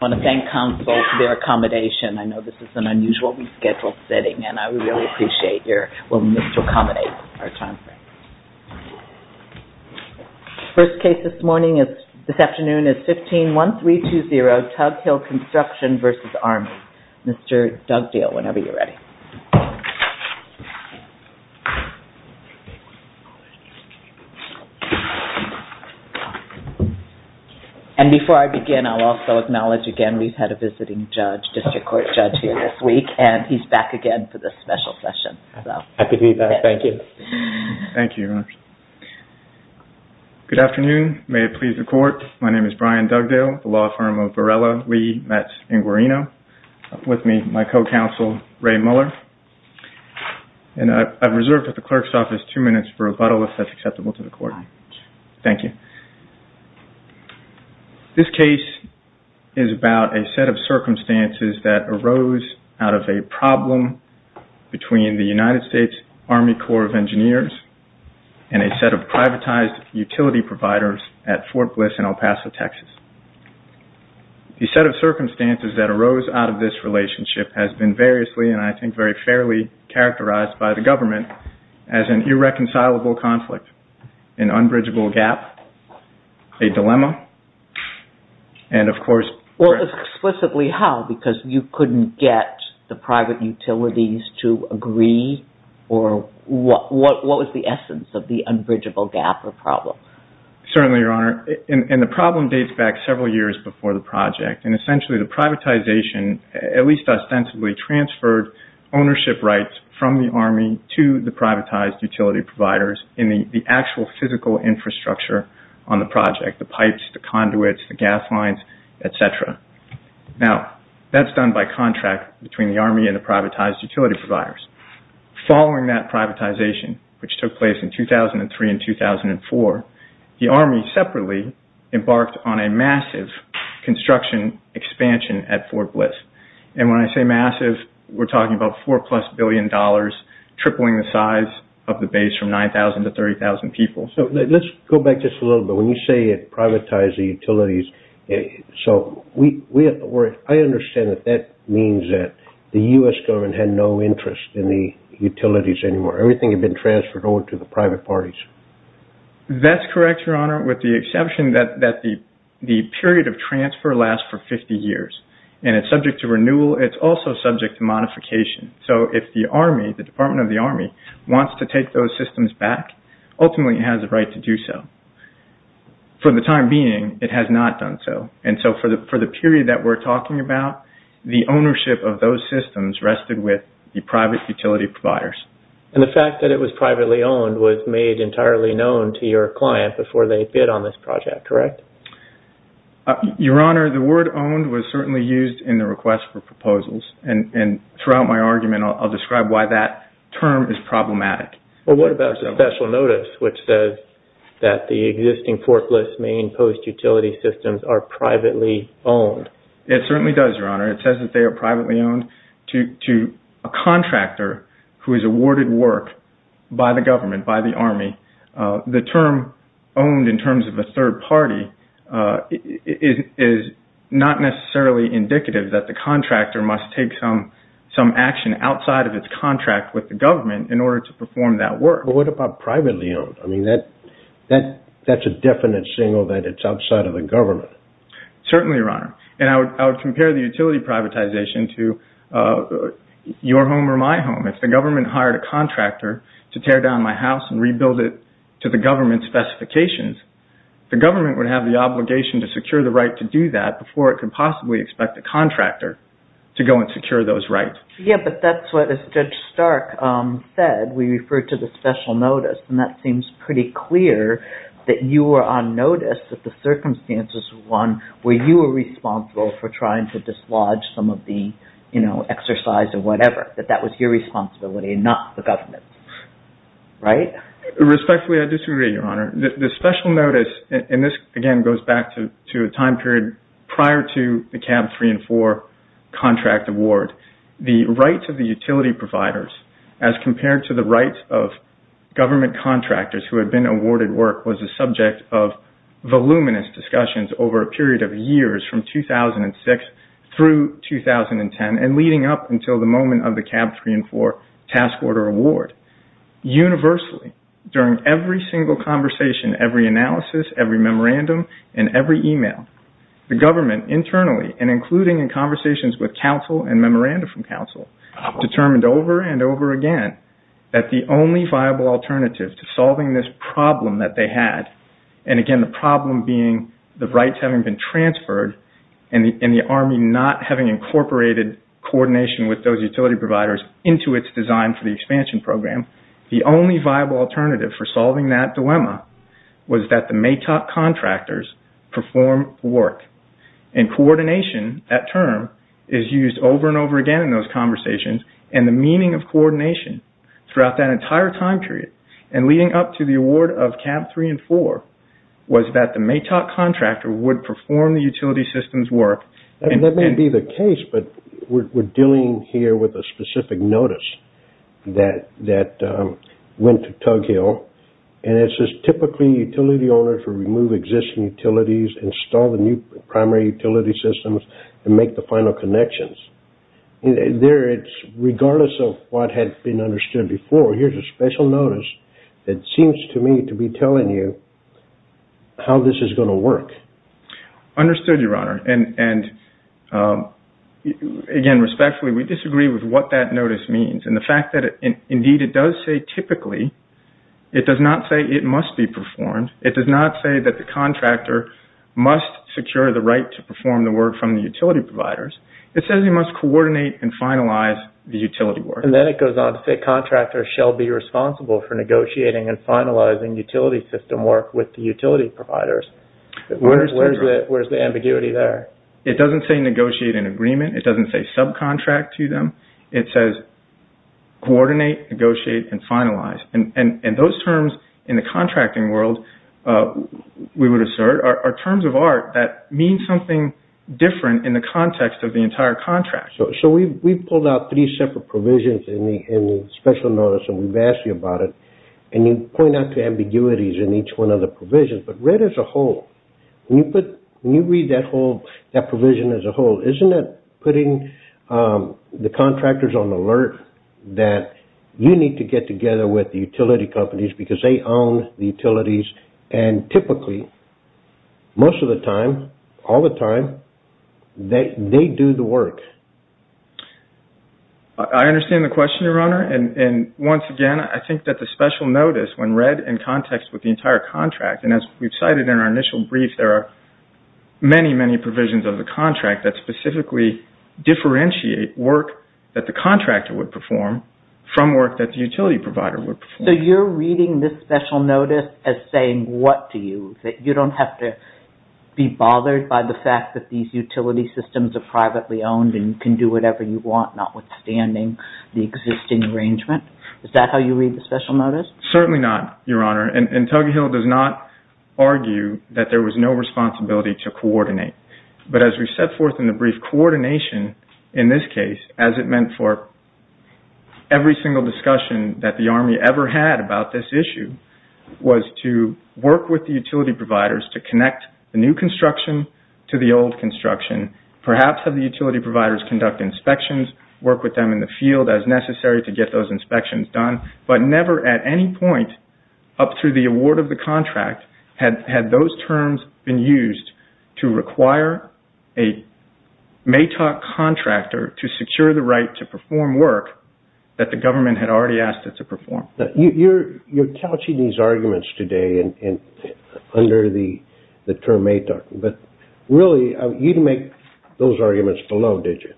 I want to thank counsel for their accommodation. I know this is an unusual rescheduled setting and I really appreciate your willingness to accommodate our time frame. First case this morning is, this afternoon is 15-1320 Tug Hill Construction v. Army. Mr. Dugdale, whenever you're ready. And before I begin, I'll also acknowledge again we've had a visiting judge, district court judge here this week and he's back again for this special session. Happy to be back. Thank you. Good afternoon. May it please the court. My name is Brian Dugdale, the law firm of Varela, Lee, Metz, and Guarino. With me, my co-counsel, Ray Muller. And I've reserved at the clerk's office two minutes for a buttolist that's acceptable to the court. Thank you. This case is about a set of circumstances that arose out of a problem between the United States Army Corps of Engineers and a set of privatized utility providers at Fort Bliss in El Paso, Texas. The set of circumstances that arose out of this relationship has been variously and I think very fairly characterized by the government as an irreconcilable conflict, an unbridgeable gap, a dilemma, and of course... Well, explicitly how? Because you couldn't get the private utilities to agree or what was the essence of the unbridgeable gap or problem? Certainly, Your Honor. And the problem dates back several years before the project. And essentially the privatization at least ostensibly transferred ownership rights from the Army to the privatized utility providers in the actual physical infrastructure on the project, the pipes, the conduits, the gas lines, et cetera. Now, that's done by contract between the Army and the privatized utility providers. Following that privatization, which took place in 2003 and 2004, the Army separately embarked on a massive construction expansion at Fort Bliss. And when I say massive, we're talking about four plus billion dollars, tripling the size of the base from 9,000 to 30,000 people. Let's go back just a little bit. When you say it privatized the utilities... I understand that that means that the U.S. government had no interest in the utilities anymore. Everything had been transferred over to the private parties. That's correct, Your Honor, with the exception that the period of transfer lasts for 50 years. And it's subject to renewal. It's also subject to modification. So if the Army, the Department of the Army, wants to take those systems back, ultimately it has a right to do so. For the time being, it has not done so. And so for the period that we're talking about, the ownership of those systems rested with the private utility providers. And the fact that it was privately owned was made entirely known to your client before they bid on this project, correct? Your Honor, the word owned was certainly used in the request for proposals. And throughout my argument, I'll describe why that term is problematic. Well, what about the special notice which says that the existing portless main post-utility systems are privately owned? It certainly does, Your Honor. It says that they are privately owned. To a contractor who is awarded work by the government, by the Army, the term owned in terms of a third party is not necessarily indicative that the contractor must take some action outside of its contract with the government in order to perform that work. But what about privately owned? I mean, that's a definite signal that it's outside of the government. Certainly, Your Honor. And I would compare the utility privatization to your home or my home. If the government hired a contractor to tear down my house and rebuild it to the government's specifications, the government would have the obligation to secure the right to do that before it could possibly expect a contractor to go and secure those rights. Yeah, but that's what Judge Stark said. We referred to the special notice. And that seems pretty clear that you were on notice that the circumstances were one where you were responsible for trying to dislodge some of the exercise or whatever, that that was your responsibility and not the government's, right? Respectfully, I disagree, Your Honor. The special notice, and this, again, goes back to a time period prior to the CAB 3 and 4 contract award. The rights of the utility providers as compared to the rights of government contractors who had been awarded work was the subject of voluminous discussions over a period of years from 2006 through 2010 and leading up until the moment of the CAB 3 and 4 task order award. Universally, during every single conversation, every analysis, every memorandum, and every email, the government internally and including in conversations with counsel and memoranda from counsel determined over and over again that the only viable alternative to solving this problem that they had, and again, the problem being the rights having been transferred and the Army not having incorporated coordination with those utility providers into its design for the expansion program, the only viable alternative for solving that dilemma was that the MATOC contractors perform work. And coordination, that term, is used over and over again in those conversations and the meaning of coordination throughout that entire time period and leading up to the award of CAB 3 and 4 was that the MATOC contractor would perform the utility system's work. That may be the case, but we're dealing here with a specific notice that went to Tug Hill and it says, typically, utility owner to remove existing utilities, install the new primary utility systems, and make the final connections. Regardless of what had been understood before, here's a special notice that seems to me to be telling you how this is going to work. Understood, Your Honor, and again, respectfully, we disagree with what that notice means. And the fact that, indeed, it does say typically, it does not say it must be performed. It does not say that the contractor must secure the right to perform the work from the utility providers. It says he must coordinate and finalize the utility work. And then it goes on to say contractors shall be responsible for negotiating and finalizing utility system work with the utility providers. Where's the ambiguity there? It doesn't say negotiate an agreement. It doesn't say subcontract to them. It says coordinate, negotiate, and finalize. And those terms in the contracting world, we would assert, are terms of art that mean something different in the context of the entire contract. So we've pulled out three separate provisions in the special notice and we've asked you about it. And you point out the ambiguities in each one of the provisions. But read as a whole, when you read that provision as a whole, isn't that putting the contractors on alert that you need to get together with the utility companies because they own the utilities and typically, most of the time, all the time, they do the work. I understand the question, Your Honor. And once again, I think that the special notice, when read in context with the entire contract, and as we've cited in our initial brief, there are many, many provisions of the contract that specifically differentiate work that the contractor would perform from work that the utility provider would perform. So you're reading this special notice as saying what to use, that you don't have to be bothered by the fact that these utility systems are privately owned and you can do whatever you want, notwithstanding the existing arrangement. Is that how you read the special notice? Certainly not, Your Honor. And Tuggy Hill does not argue that there was no responsibility to coordinate. But as we've set forth in the brief, coordination in this case, as it meant for every single discussion that the Army ever had about this issue, was to work with the utility providers to connect the new construction to the old construction, perhaps have the utility providers conduct inspections, work with them in the field as necessary to get those inspections done, but never at any point up through the award of the contract had those terms been used to require a MATOC contractor to secure the right to perform work that the government had already asked it to perform. You're couching these arguments today under the term MATOC, but really you didn't make those arguments below, did you?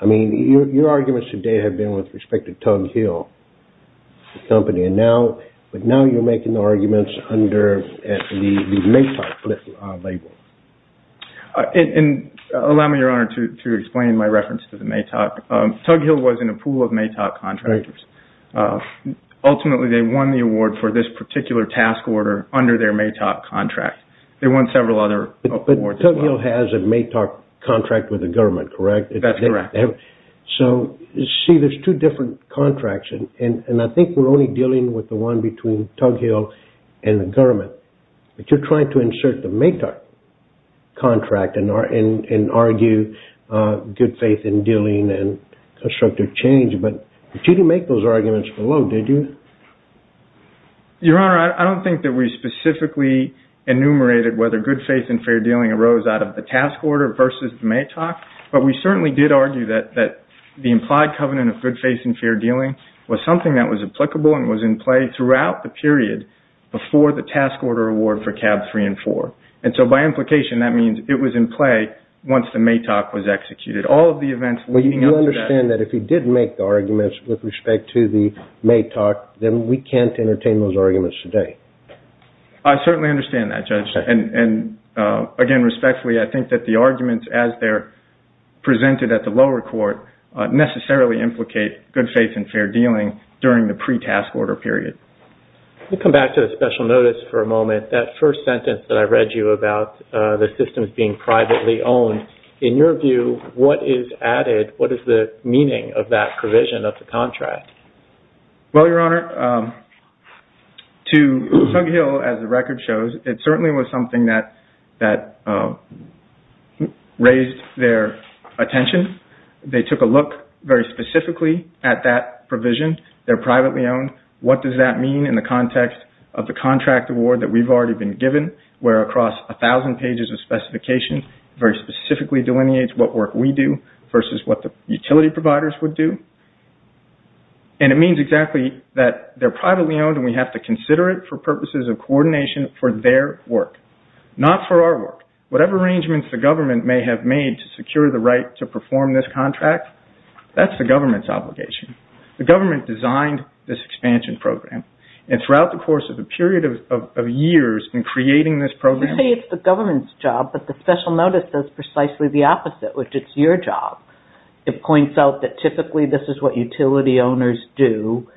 I mean, your arguments today have been with respect to Tuggy Hill Company, but now you're making the arguments under the MATOC label. And allow me, Your Honor, to explain my reference to the MATOC. Tuggy Hill was in a pool of MATOC contractors. Ultimately, they won the award for this particular task order under their MATOC contract. They won several other awards as well. But Tuggy Hill has a MATOC contract with the government, correct? That's correct. So, you see, there's two different contracts, and I think we're only dealing with the one between Tuggy Hill and the government. But you're trying to insert the MATOC contract and argue good faith in dealing and constructive change, but you didn't make those arguments below, did you? Your Honor, I don't think that we specifically enumerated whether good faith in fair dealing arose out of the task order versus the MATOC, but we certainly did argue that the implied covenant of good faith in fair dealing was something that was applicable and was in play throughout the period before the task order award for CAB 3 and 4. And so by implication, that means it was in play once the MATOC was executed. All of the events leading up to that... Well, you understand that if he didn't make the arguments with respect to the MATOC, then we can't entertain those arguments today. I certainly understand that, Judge. And, again, respectfully, I think that the arguments as they're presented at the lower court necessarily implicate good faith in fair dealing during the pre-task order period. We'll come back to the special notice for a moment. That first sentence that I read you about the systems being privately owned, in your view, what is added? What is the meaning of that provision of the contract? Well, Your Honor, to Sunghill, as the record shows, it certainly was something that raised their attention. They took a look very specifically at that provision. They're privately owned. What does that mean in the context of the contract award that we've already been given, where across 1,000 pages of specification, it very specifically delineates what work we do versus what the utility providers would do. And it means exactly that they're privately owned, and we have to consider it for purposes of coordination for their work, not for our work. Whatever arrangements the government may have made to secure the right to perform this contract, that's the government's obligation. The government designed this expansion program, and throughout the course of a period of years in creating this program- You say it's the government's job, but the special notice does precisely the opposite, which it's your job. It points out that typically this is what utility owners do,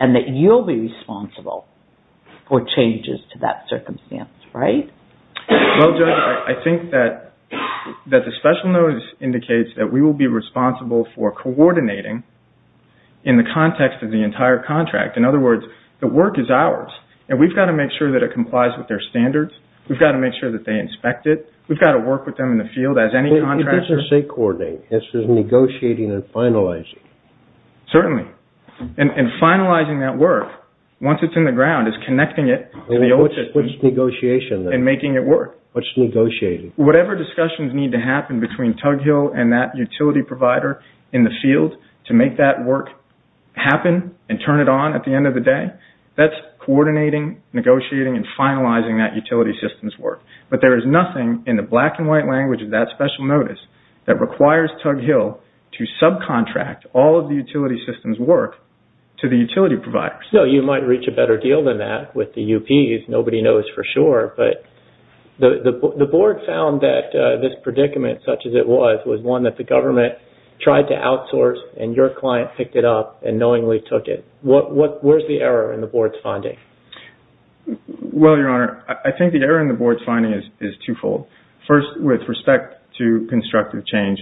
and that you'll be responsible for changes to that circumstance, right? Well, Judge, I think that the special notice indicates that we will be responsible for coordinating in the context of the entire contract. In other words, the work is ours, and we've got to make sure that it complies with their standards. We've got to make sure that they inspect it. We've got to work with them in the field as any contractor- But this is say coordinating. This is negotiating and finalizing. Certainly. And finalizing that work, once it's in the ground, is connecting it to the- What's negotiation then? And making it work. What's negotiating? Whatever discussions need to happen between Tug Hill and that utility provider in the field to make that work happen and turn it on at the end of the day, that's coordinating, negotiating, and finalizing that utility system's work. But there is nothing in the black and white language of that special notice that requires Tug Hill to subcontract all of the utility system's work to the utility providers. No, you might reach a better deal than that with the UPs. Nobody knows for sure. But the board found that this predicament, such as it was, was one that the government tried to outsource and your client picked it up and knowingly took it. Where's the error in the board's finding? Well, Your Honor, I think the error in the board's finding is twofold. First, with respect to constructive change,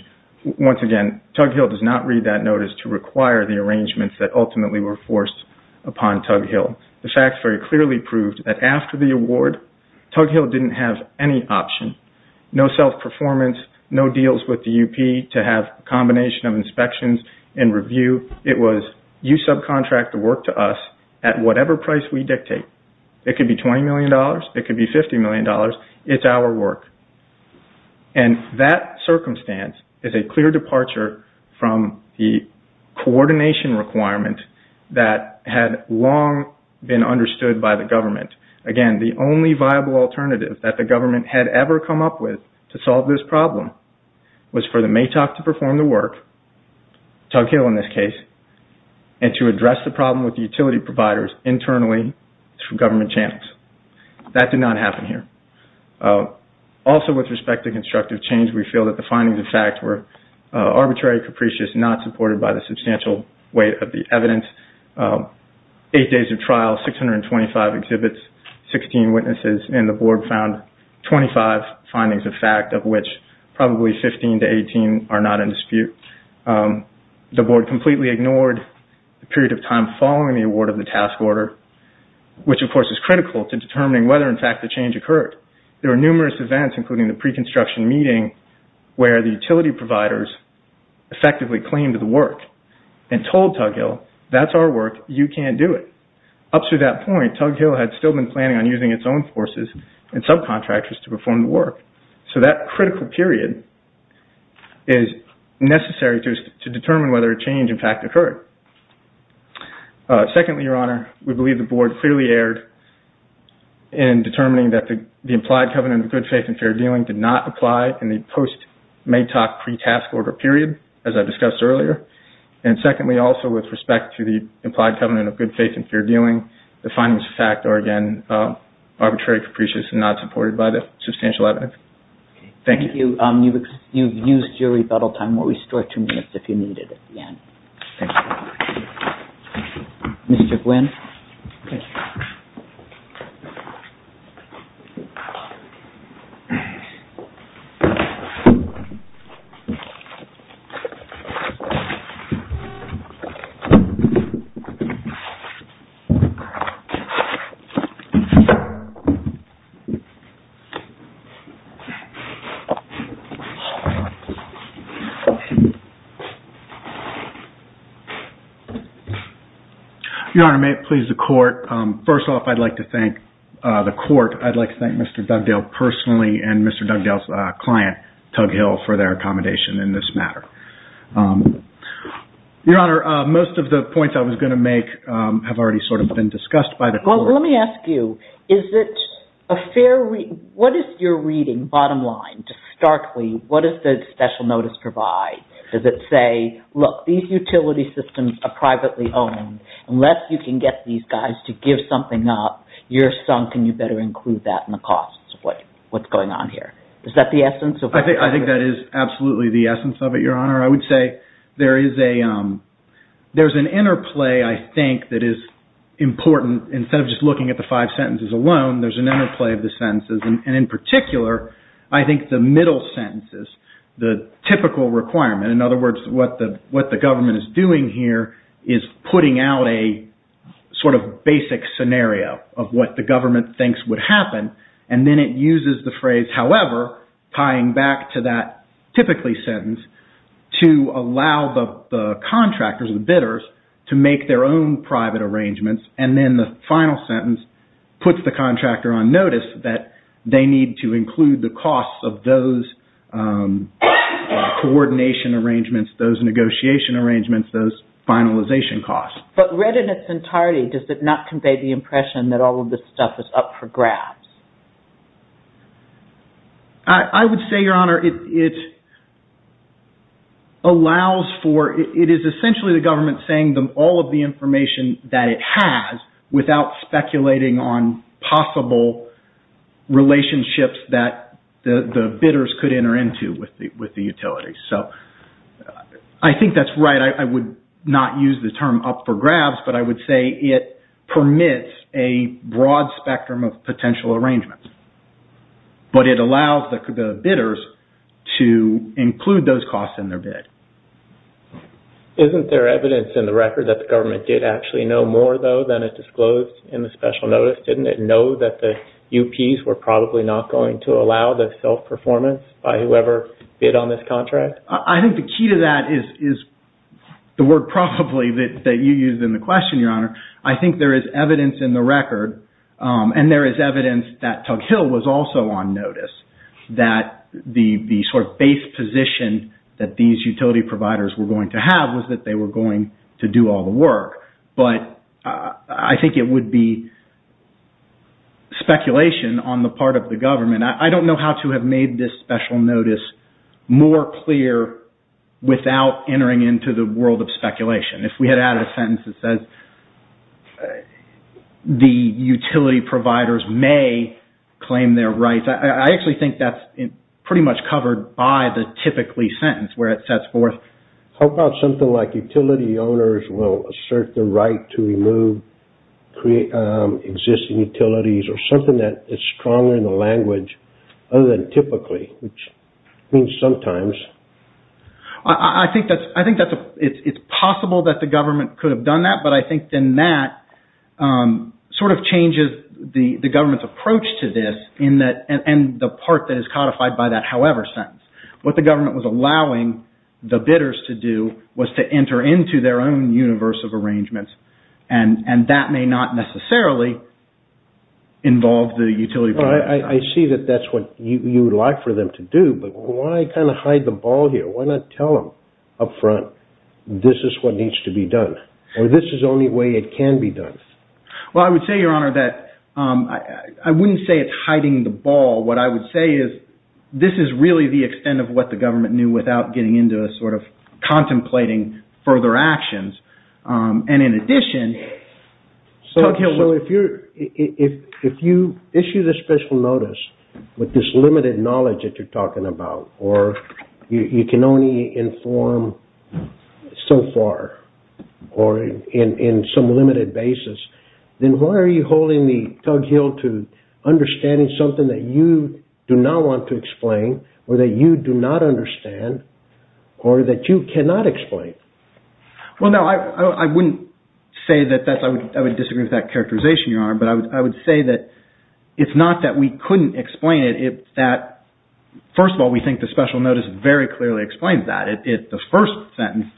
once again, Tug Hill does not read that notice to require the arrangements that ultimately were forced upon Tug Hill. The facts very clearly prove that after the award, Tug Hill didn't have any option, no self-performance, no deals with the UP to have a combination of inspections and review. It was you subcontract the work to us at whatever price we dictate. It could be $20 million, it could be $50 million. It's our work. And that circumstance is a clear departure from the coordination requirement that had long been understood by the government. Again, the only viable alternative that the government had ever come up with to solve this problem was for the MATOC to perform the work, Tug Hill in this case, and to address the problem with the utility providers internally through government channels. That did not happen here. Also, with respect to constructive change, we feel that the findings of fact were arbitrary, capricious, not supported by the substantial weight of the evidence. Eight days of trial, 625 exhibits, 16 witnesses, and the board found 25 findings of fact of which probably 15 to 18 are not in dispute. The board completely ignored the period of time following the award of the task order, which, of course, is critical to determining whether, in fact, the change occurred. There were numerous events, including the pre-construction meeting, where the utility providers effectively claimed the work and told Tug Hill, that's our work, you can't do it. Up to that point, Tug Hill had still been planning on using its own forces and subcontractors to perform the work. So that critical period is necessary to determine whether a change, in fact, occurred. Secondly, Your Honor, we believe the board clearly erred in determining that the implied covenant of good faith and fair dealing did not apply in the post-MATOC pre-task order period, as I discussed earlier. And secondly, also, with respect to the implied covenant of good faith and fair dealing, the findings of fact are, again, arbitrary, capricious, not supported by the substantial evidence. Thank you. Thank you. You've used your rebuttal time. We'll restore two minutes if you need it at the end. Thank you. Mr. Gwynne. Your Honor, may it please the Court. First off, I'd like to thank the Court. I'd like to thank Mr. Dugdale personally and Mr. Dugdale's client, Tug Hill, for their accommodation in this matter. Your Honor, most of the points I was going to make have already sort of been discussed by the Court. Well, let me ask you, is it a fair reading? What is your reading, bottom line, starkly? What does the special notice provide? Does it say, look, these utility systems are privately owned. Unless you can get these guys to give something up, you're sunk, and you better include that in the costs of what's going on here. Is that the essence? I think that is absolutely the essence of it, Your Honor. I would say there is an interplay, I think, that is important. Instead of just looking at the five sentences alone, there's an interplay of the sentences. And in particular, I think the middle sentences, the typical requirement, in other words, what the government is doing here is putting out a sort of basic scenario of what the government thinks would happen. And then it uses the phrase, however, tying back to that typically sentence, to allow the contractors, the bidders, to make their own private arrangements. And then the final sentence puts the contractor on notice that they need to include the costs of those coordination arrangements, those negotiation arrangements, those finalization costs. But read in its entirety, does it not convey the impression that all of this stuff is up for grabs? I would say, Your Honor, it allows for, it is essentially the government saying all of the information that it has without speculating on possible relationships that the bidders could enter into with the utility. So, I think that's right. I would not use the term up for grabs, but I would say it permits a broad spectrum of potential arrangements. But it allows the bidders to include those costs in their bid. Isn't there evidence in the record that the government did actually know more, though, than it disclosed in the special notice? Didn't it know that the UPs were probably not going to allow the self-performance by whoever bid on this contract? I think the key to that is the word probably that you used in the question, Your Honor. I think there is evidence in the record, and there is evidence that Tug Hill was also on notice, that the sort of base position that these utility providers were going to have was that they were going to do all the work. But I think it would be speculation on the part of the government. I don't know how to have made this special notice more clear without entering into the world of speculation. If we had added a sentence that says the utility providers may claim their rights, I actually think that's pretty much covered by the typically sentence where it sets forth. How about something like utility owners will assert the right to remove existing utilities or something that is stronger in the language other than typically, which means sometimes. I think it's possible that the government could have done that, but I think then that sort of changes the government's approach to this and the part that is codified by that however sentence. What the government was allowing the bidders to do was to enter into their own universe of arrangements, and that may not necessarily involve the utility providers. I see that that's what you would like for them to do, but why kind of hide the ball here? Why not tell them up front this is what needs to be done, or this is the only way it can be done? Well, I would say, Your Honor, that I wouldn't say it's hiding the ball. What I would say is this is really the extent of what the government knew without getting into a sort of contemplating further actions. In addition, Tug Hill... If you issue the special notice with this limited knowledge that you're talking about, or you can only inform so far or in some limited basis, then why are you holding Tug Hill to understanding something that you do not want to explain or that you do not understand or that you cannot explain? Well, no, I wouldn't say that. I would disagree with that characterization, Your Honor, but I would say that it's not that we couldn't explain it. First of all, we think the special notice very clearly explains that. The first sentence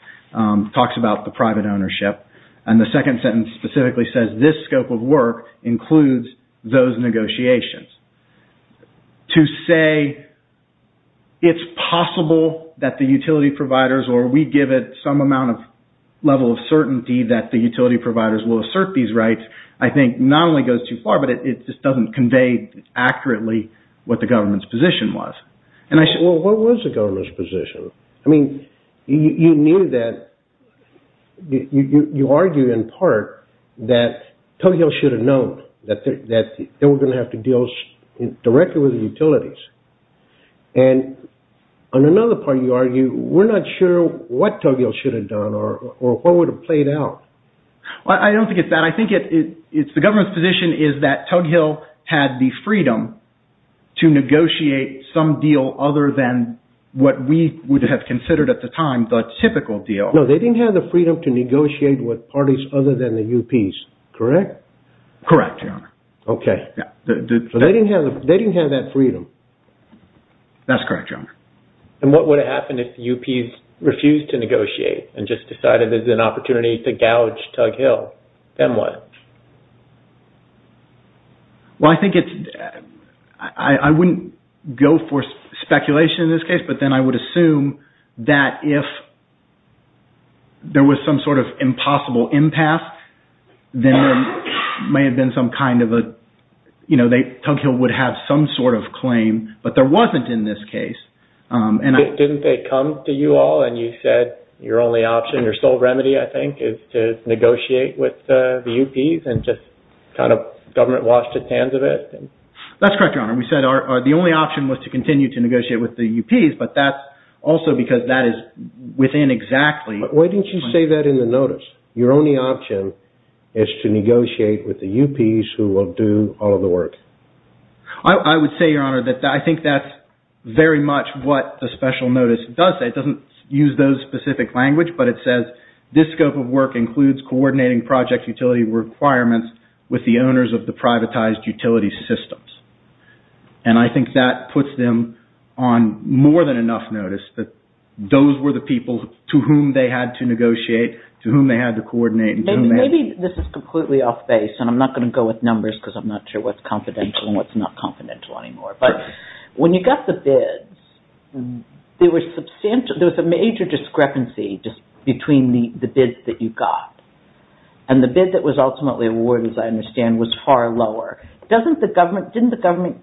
talks about the private ownership, and the second sentence specifically says this scope of work includes those negotiations. To say it's possible that the utility providers, or we give it some amount of level of certainty that the utility providers will assert these rights, I think not only goes too far, but it just doesn't convey accurately what the government's position was. Well, what was the government's position? I mean, you knew that... You argued in part that Tug Hill should have known that they were going to have to deal directly with the utilities. And on another part, you argue, we're not sure what Tug Hill should have done or what would have played out. I don't think it's that. I think the government's position is that Tug Hill had the freedom to negotiate some deal other than what we would have considered at the time the typical deal. No, they didn't have the freedom to negotiate with parties other than the UPs, correct? Correct, Your Honor. Okay. They didn't have that freedom. That's correct, Your Honor. And what would have happened if the UPs refused to negotiate and just decided there's an opportunity to gouge Tug Hill? Then what? Well, I think it's... I wouldn't go for speculation in this case, but then I would assume that if there was some sort of impossible impasse, then there may have been some kind of a... You know, Tug Hill would have some sort of claim, but there wasn't in this case. Didn't they come to you all and you said your only option, your sole remedy, I think, is to negotiate with the UPs and just kind of government washed its hands of it? That's correct, Your Honor. We said the only option was to continue to negotiate with the UPs, but that's also because that is within exactly... Why didn't you say that in the notice? Your only option is to negotiate with the UPs who will do all of the work. I would say, Your Honor, that I think that's very much what the special notice does say. It doesn't use those specific language, but it says this scope of work includes coordinating project utility requirements with the owners of the privatized utility systems. And I think that puts them on more than enough notice that those were the people to whom they had to negotiate, to whom they had to coordinate, and to whom they had to... Maybe this is completely off base, and I'm not going to go with numbers because I'm not sure what's confidential and what's not confidential anymore. But when you got the bids, there was a major discrepancy between the bids that you got. And the bid that was ultimately awarded, as I understand, was far lower. Didn't the government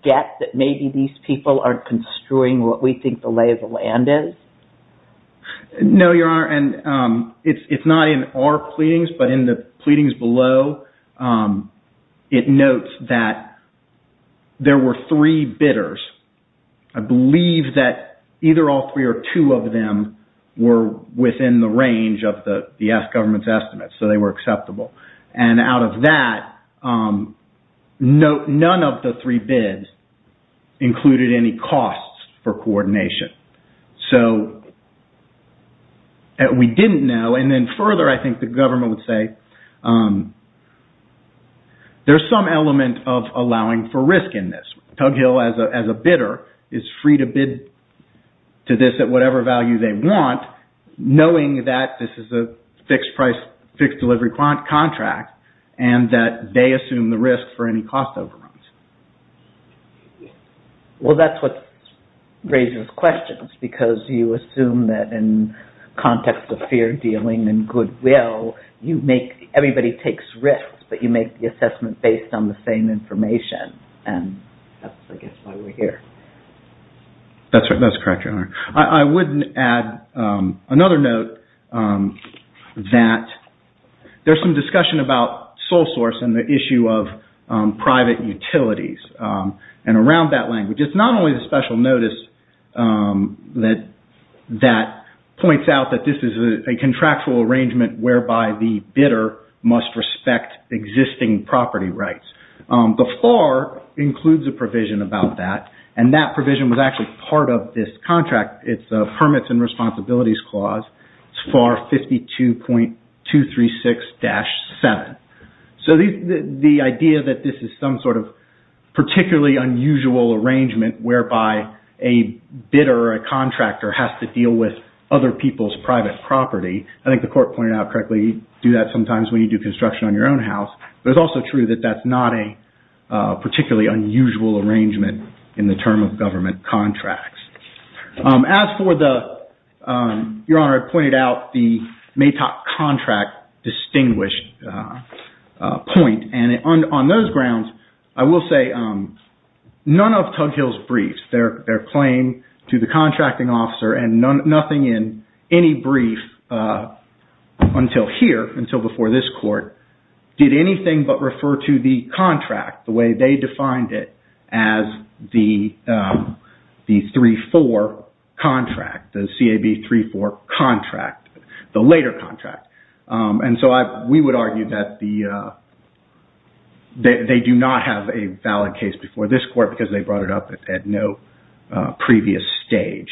get that maybe these people aren't construing what we think the lay of the land is? No, Your Honor. And it's not in our pleadings, but in the pleadings below, it notes that there were three bidders. I believe that either all three or two of them were within the range of the government's estimates, so they were acceptable. And out of that, none of the three bids included any costs for coordination. So, we didn't know. And then further, I think the government would say, there's some element of allowing for risk in this. Tug Hill, as a bidder, is free to bid to this at whatever value they want, knowing that this is a fixed delivery contract and that they assume the risk for any cost overruns. Well, that's what raises questions, because you assume that in context of fear dealing and goodwill, everybody takes risks, but you make the assessment based on the same information. And that's, I guess, why we're here. That's correct, Your Honor. I would add another note that there's some discussion about sole source and the issue of private utilities. And around that language, it's not only the special notice that points out that this is a contractual arrangement whereby the bidder must respect existing property rights. The FAR includes a provision about that, and that provision was actually part of this contract. It's the Permits and Responsibilities Clause, FAR 52.236-7. So the idea that this is some sort of particularly unusual arrangement whereby a bidder or a contractor has to deal with other people's private property, I think the Court pointed out correctly, you do that sometimes when you do construction on your own house, but it's also true that that's not a particularly unusual arrangement in the term of government contracts. As for the, Your Honor, I pointed out the MATOC contract distinguished point. And on those grounds, I will say none of Tug Hill's briefs, their claim to the contracting officer, and nothing in any brief until here, until before this Court, did anything but refer to the contract the way they defined it as the 3-4 contract, the CAB 3-4 contract, the later contract. And so we would argue that they do not have a valid case before this Court because they brought it up at no previous stage.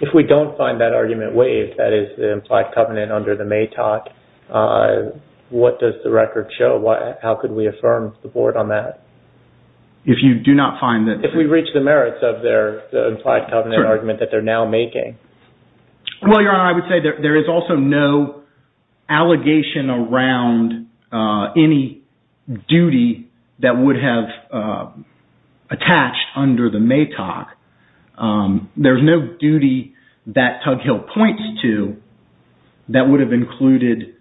If we don't find that argument waived, that is the implied covenant under the MATOC, what does the record show? How could we affirm the Board on that? If you do not find that... If we reach the merits of their implied covenant argument that they're now making. Well, Your Honor, I would say there is also no allegation around any duty that would have attached under the MATOC. There's no duty that Tug Hill points to that would have included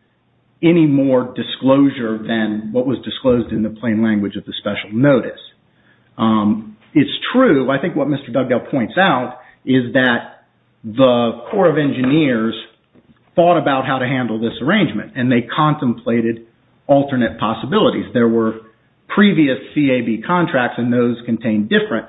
any more disclosure than what was disclosed in the plain language of the special notice. It's true. I think what Mr. Dugdale points out is that the Corps of Engineers thought about how to handle this arrangement and they contemplated alternate possibilities. There were previous CAB contracts and those contained different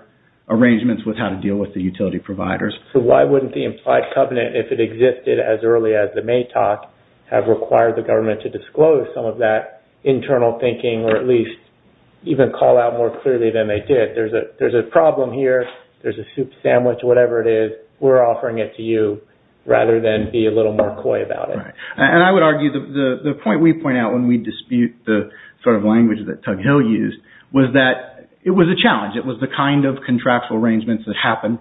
arrangements with how to deal with the utility providers. So why wouldn't the implied covenant, if it existed as early as the MATOC, have required the government to disclose some of that internal thinking or at least even call out more clearly than they did? There's a problem here. There's a soup sandwich, whatever it is. We're offering it to you rather than be a little more coy about it. And I would argue the point we point out when we dispute the sort of language that Tug Hill used was that it was a challenge. It was the kind of contractual arrangements that happen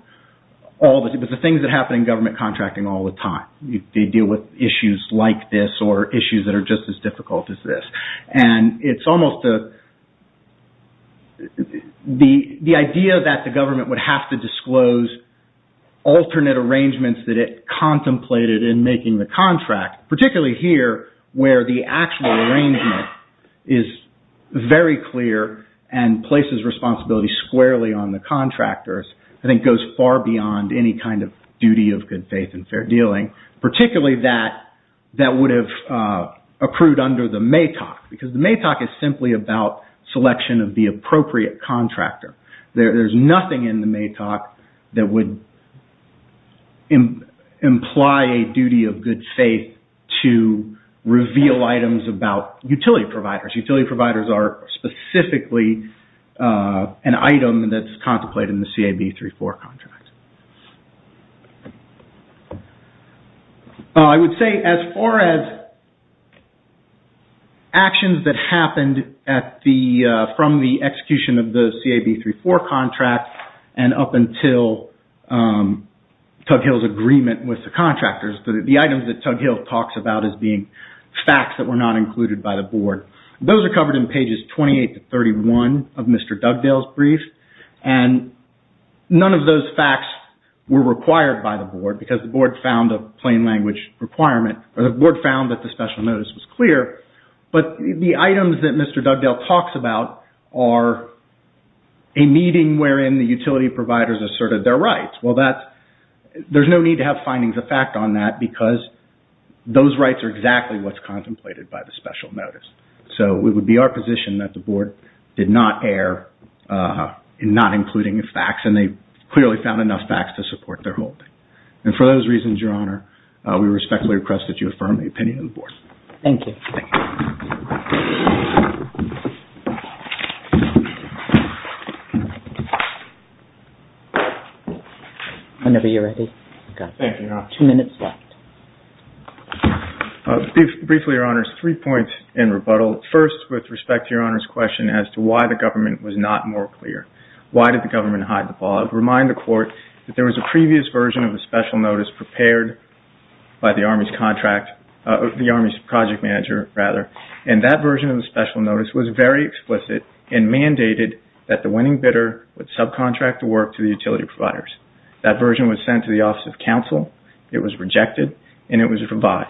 all the time. It was the things that happen in government contracting all the time. They deal with issues like this or issues that are just as difficult as this. And it's almost the idea that the government would have to disclose alternate arrangements that it contemplated in making the contract, particularly here where the actual arrangement is very clear and places responsibility squarely on the contractors, I think goes far beyond any kind of duty of good faith and fair dealing, particularly that that would have accrued under the MATOC because the MATOC is simply about selection of the appropriate contractor. There's nothing in the MATOC that would imply a duty of good faith to reveal items about utility providers. Utility providers are specifically an item that's contemplated in the CAB 34 contract. I would say as far as actions that happened from the execution of the CAB 34 contract and up until Tug Hill's agreement with the contractors, the items that Tug Hill talks about as being facts that were not included by the board, those are covered in pages 28 to 31 of Mr. Dugdale's brief. And none of those facts were required by the board because the board found a plain language requirement or the board found that the special notice was clear. But the items that Mr. Dugdale talks about are a meeting wherein the utility providers asserted their rights. Well, there's no need to have findings of fact on that because those rights are exactly what's contemplated by the special notice. So it would be our position that the board did not err in not including facts and they clearly found enough facts to support their holding. And for those reasons, Your Honor, we respectfully request that you affirm the opinion of the board. Thank you. Whenever you're ready. Thank you, Your Honor. Two minutes left. Briefly, Your Honor, three points in rebuttal. First, with respect to Your Honor's question as to why the government was not more clear. Why did the government hide the ball? I'd remind the court that there was a previous version of the special notice prepared by the Army's project manager. And that version of the special notice was very explicit and mandated that the winning bidder would subcontract the work to the utility providers. That version was sent to the Office of Counsel, it was rejected, and it was revised.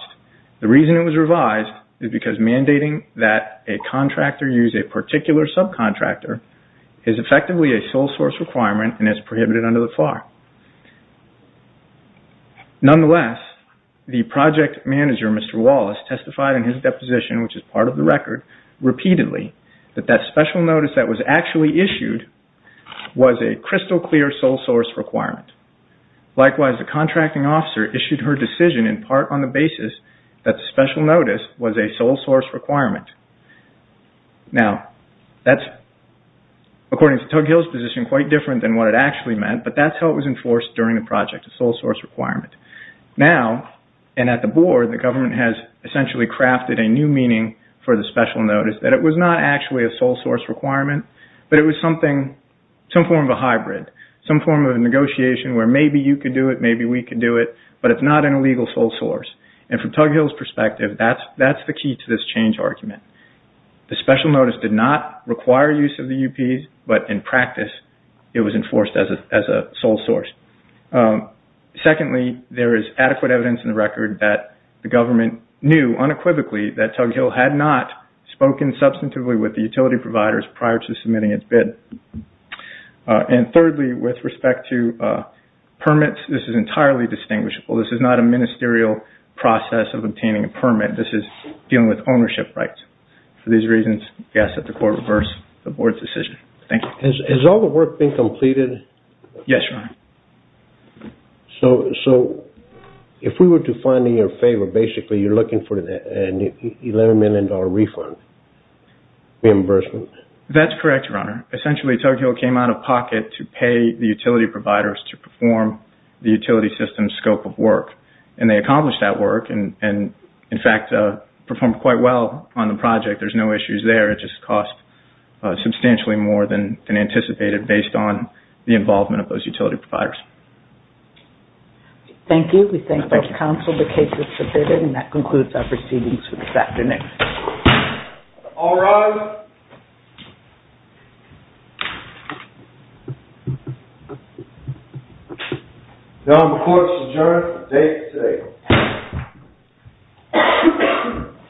The reason it was revised is because mandating that a contractor use a particular subcontractor is effectively a sole source requirement and it's prohibited under the FAR. Nonetheless, the project manager, Mr. Wallace, testified in his deposition, which is part of the record, repeatedly that that special notice that was actually issued was a crystal clear sole source requirement. Likewise, the contracting officer issued her decision in part on the basis that the special notice was a sole source requirement. Now, that's, according to Tug Hill's position, quite different than what it actually meant, but that's how it was enforced during the project, a sole source requirement. Now, and at the Board, the government has essentially crafted a new meaning for the special notice that it was not actually a sole source requirement, but it was something, some form of a hybrid, some form of a negotiation where maybe you could do it, maybe we could do it, but it's not an illegal sole source. And from Tug Hill's perspective, that's the key to this change argument. The special notice did not require use of the UPs, but in practice it was enforced as a sole source. Secondly, there is adequate evidence in the record that the government knew, unequivocally, that Tug Hill had not spoken substantively with the utility providers prior to submitting its bid. And thirdly, with respect to permits, this is entirely distinguishable. This is not a ministerial process of obtaining a permit. This is dealing with ownership rights. For these reasons, I guess that the Court reversed the Board's decision. Thank you. Has all the work been completed? Yes, Your Honor. So if we were to find in your favor, basically, you're looking for an $11 million refund, reimbursement? That's correct, Your Honor. Essentially, Tug Hill came out of pocket to pay the utility providers to perform the utility system's scope of work. And they accomplished that work and, in fact, performed quite well on the project. There's no issues there. It just cost substantially more than anticipated based on the involvement of those utility providers. Thank you. We thank both counsel. The case is submitted. And that concludes our proceedings for this afternoon. All rise. Now the Court's adjourned for today.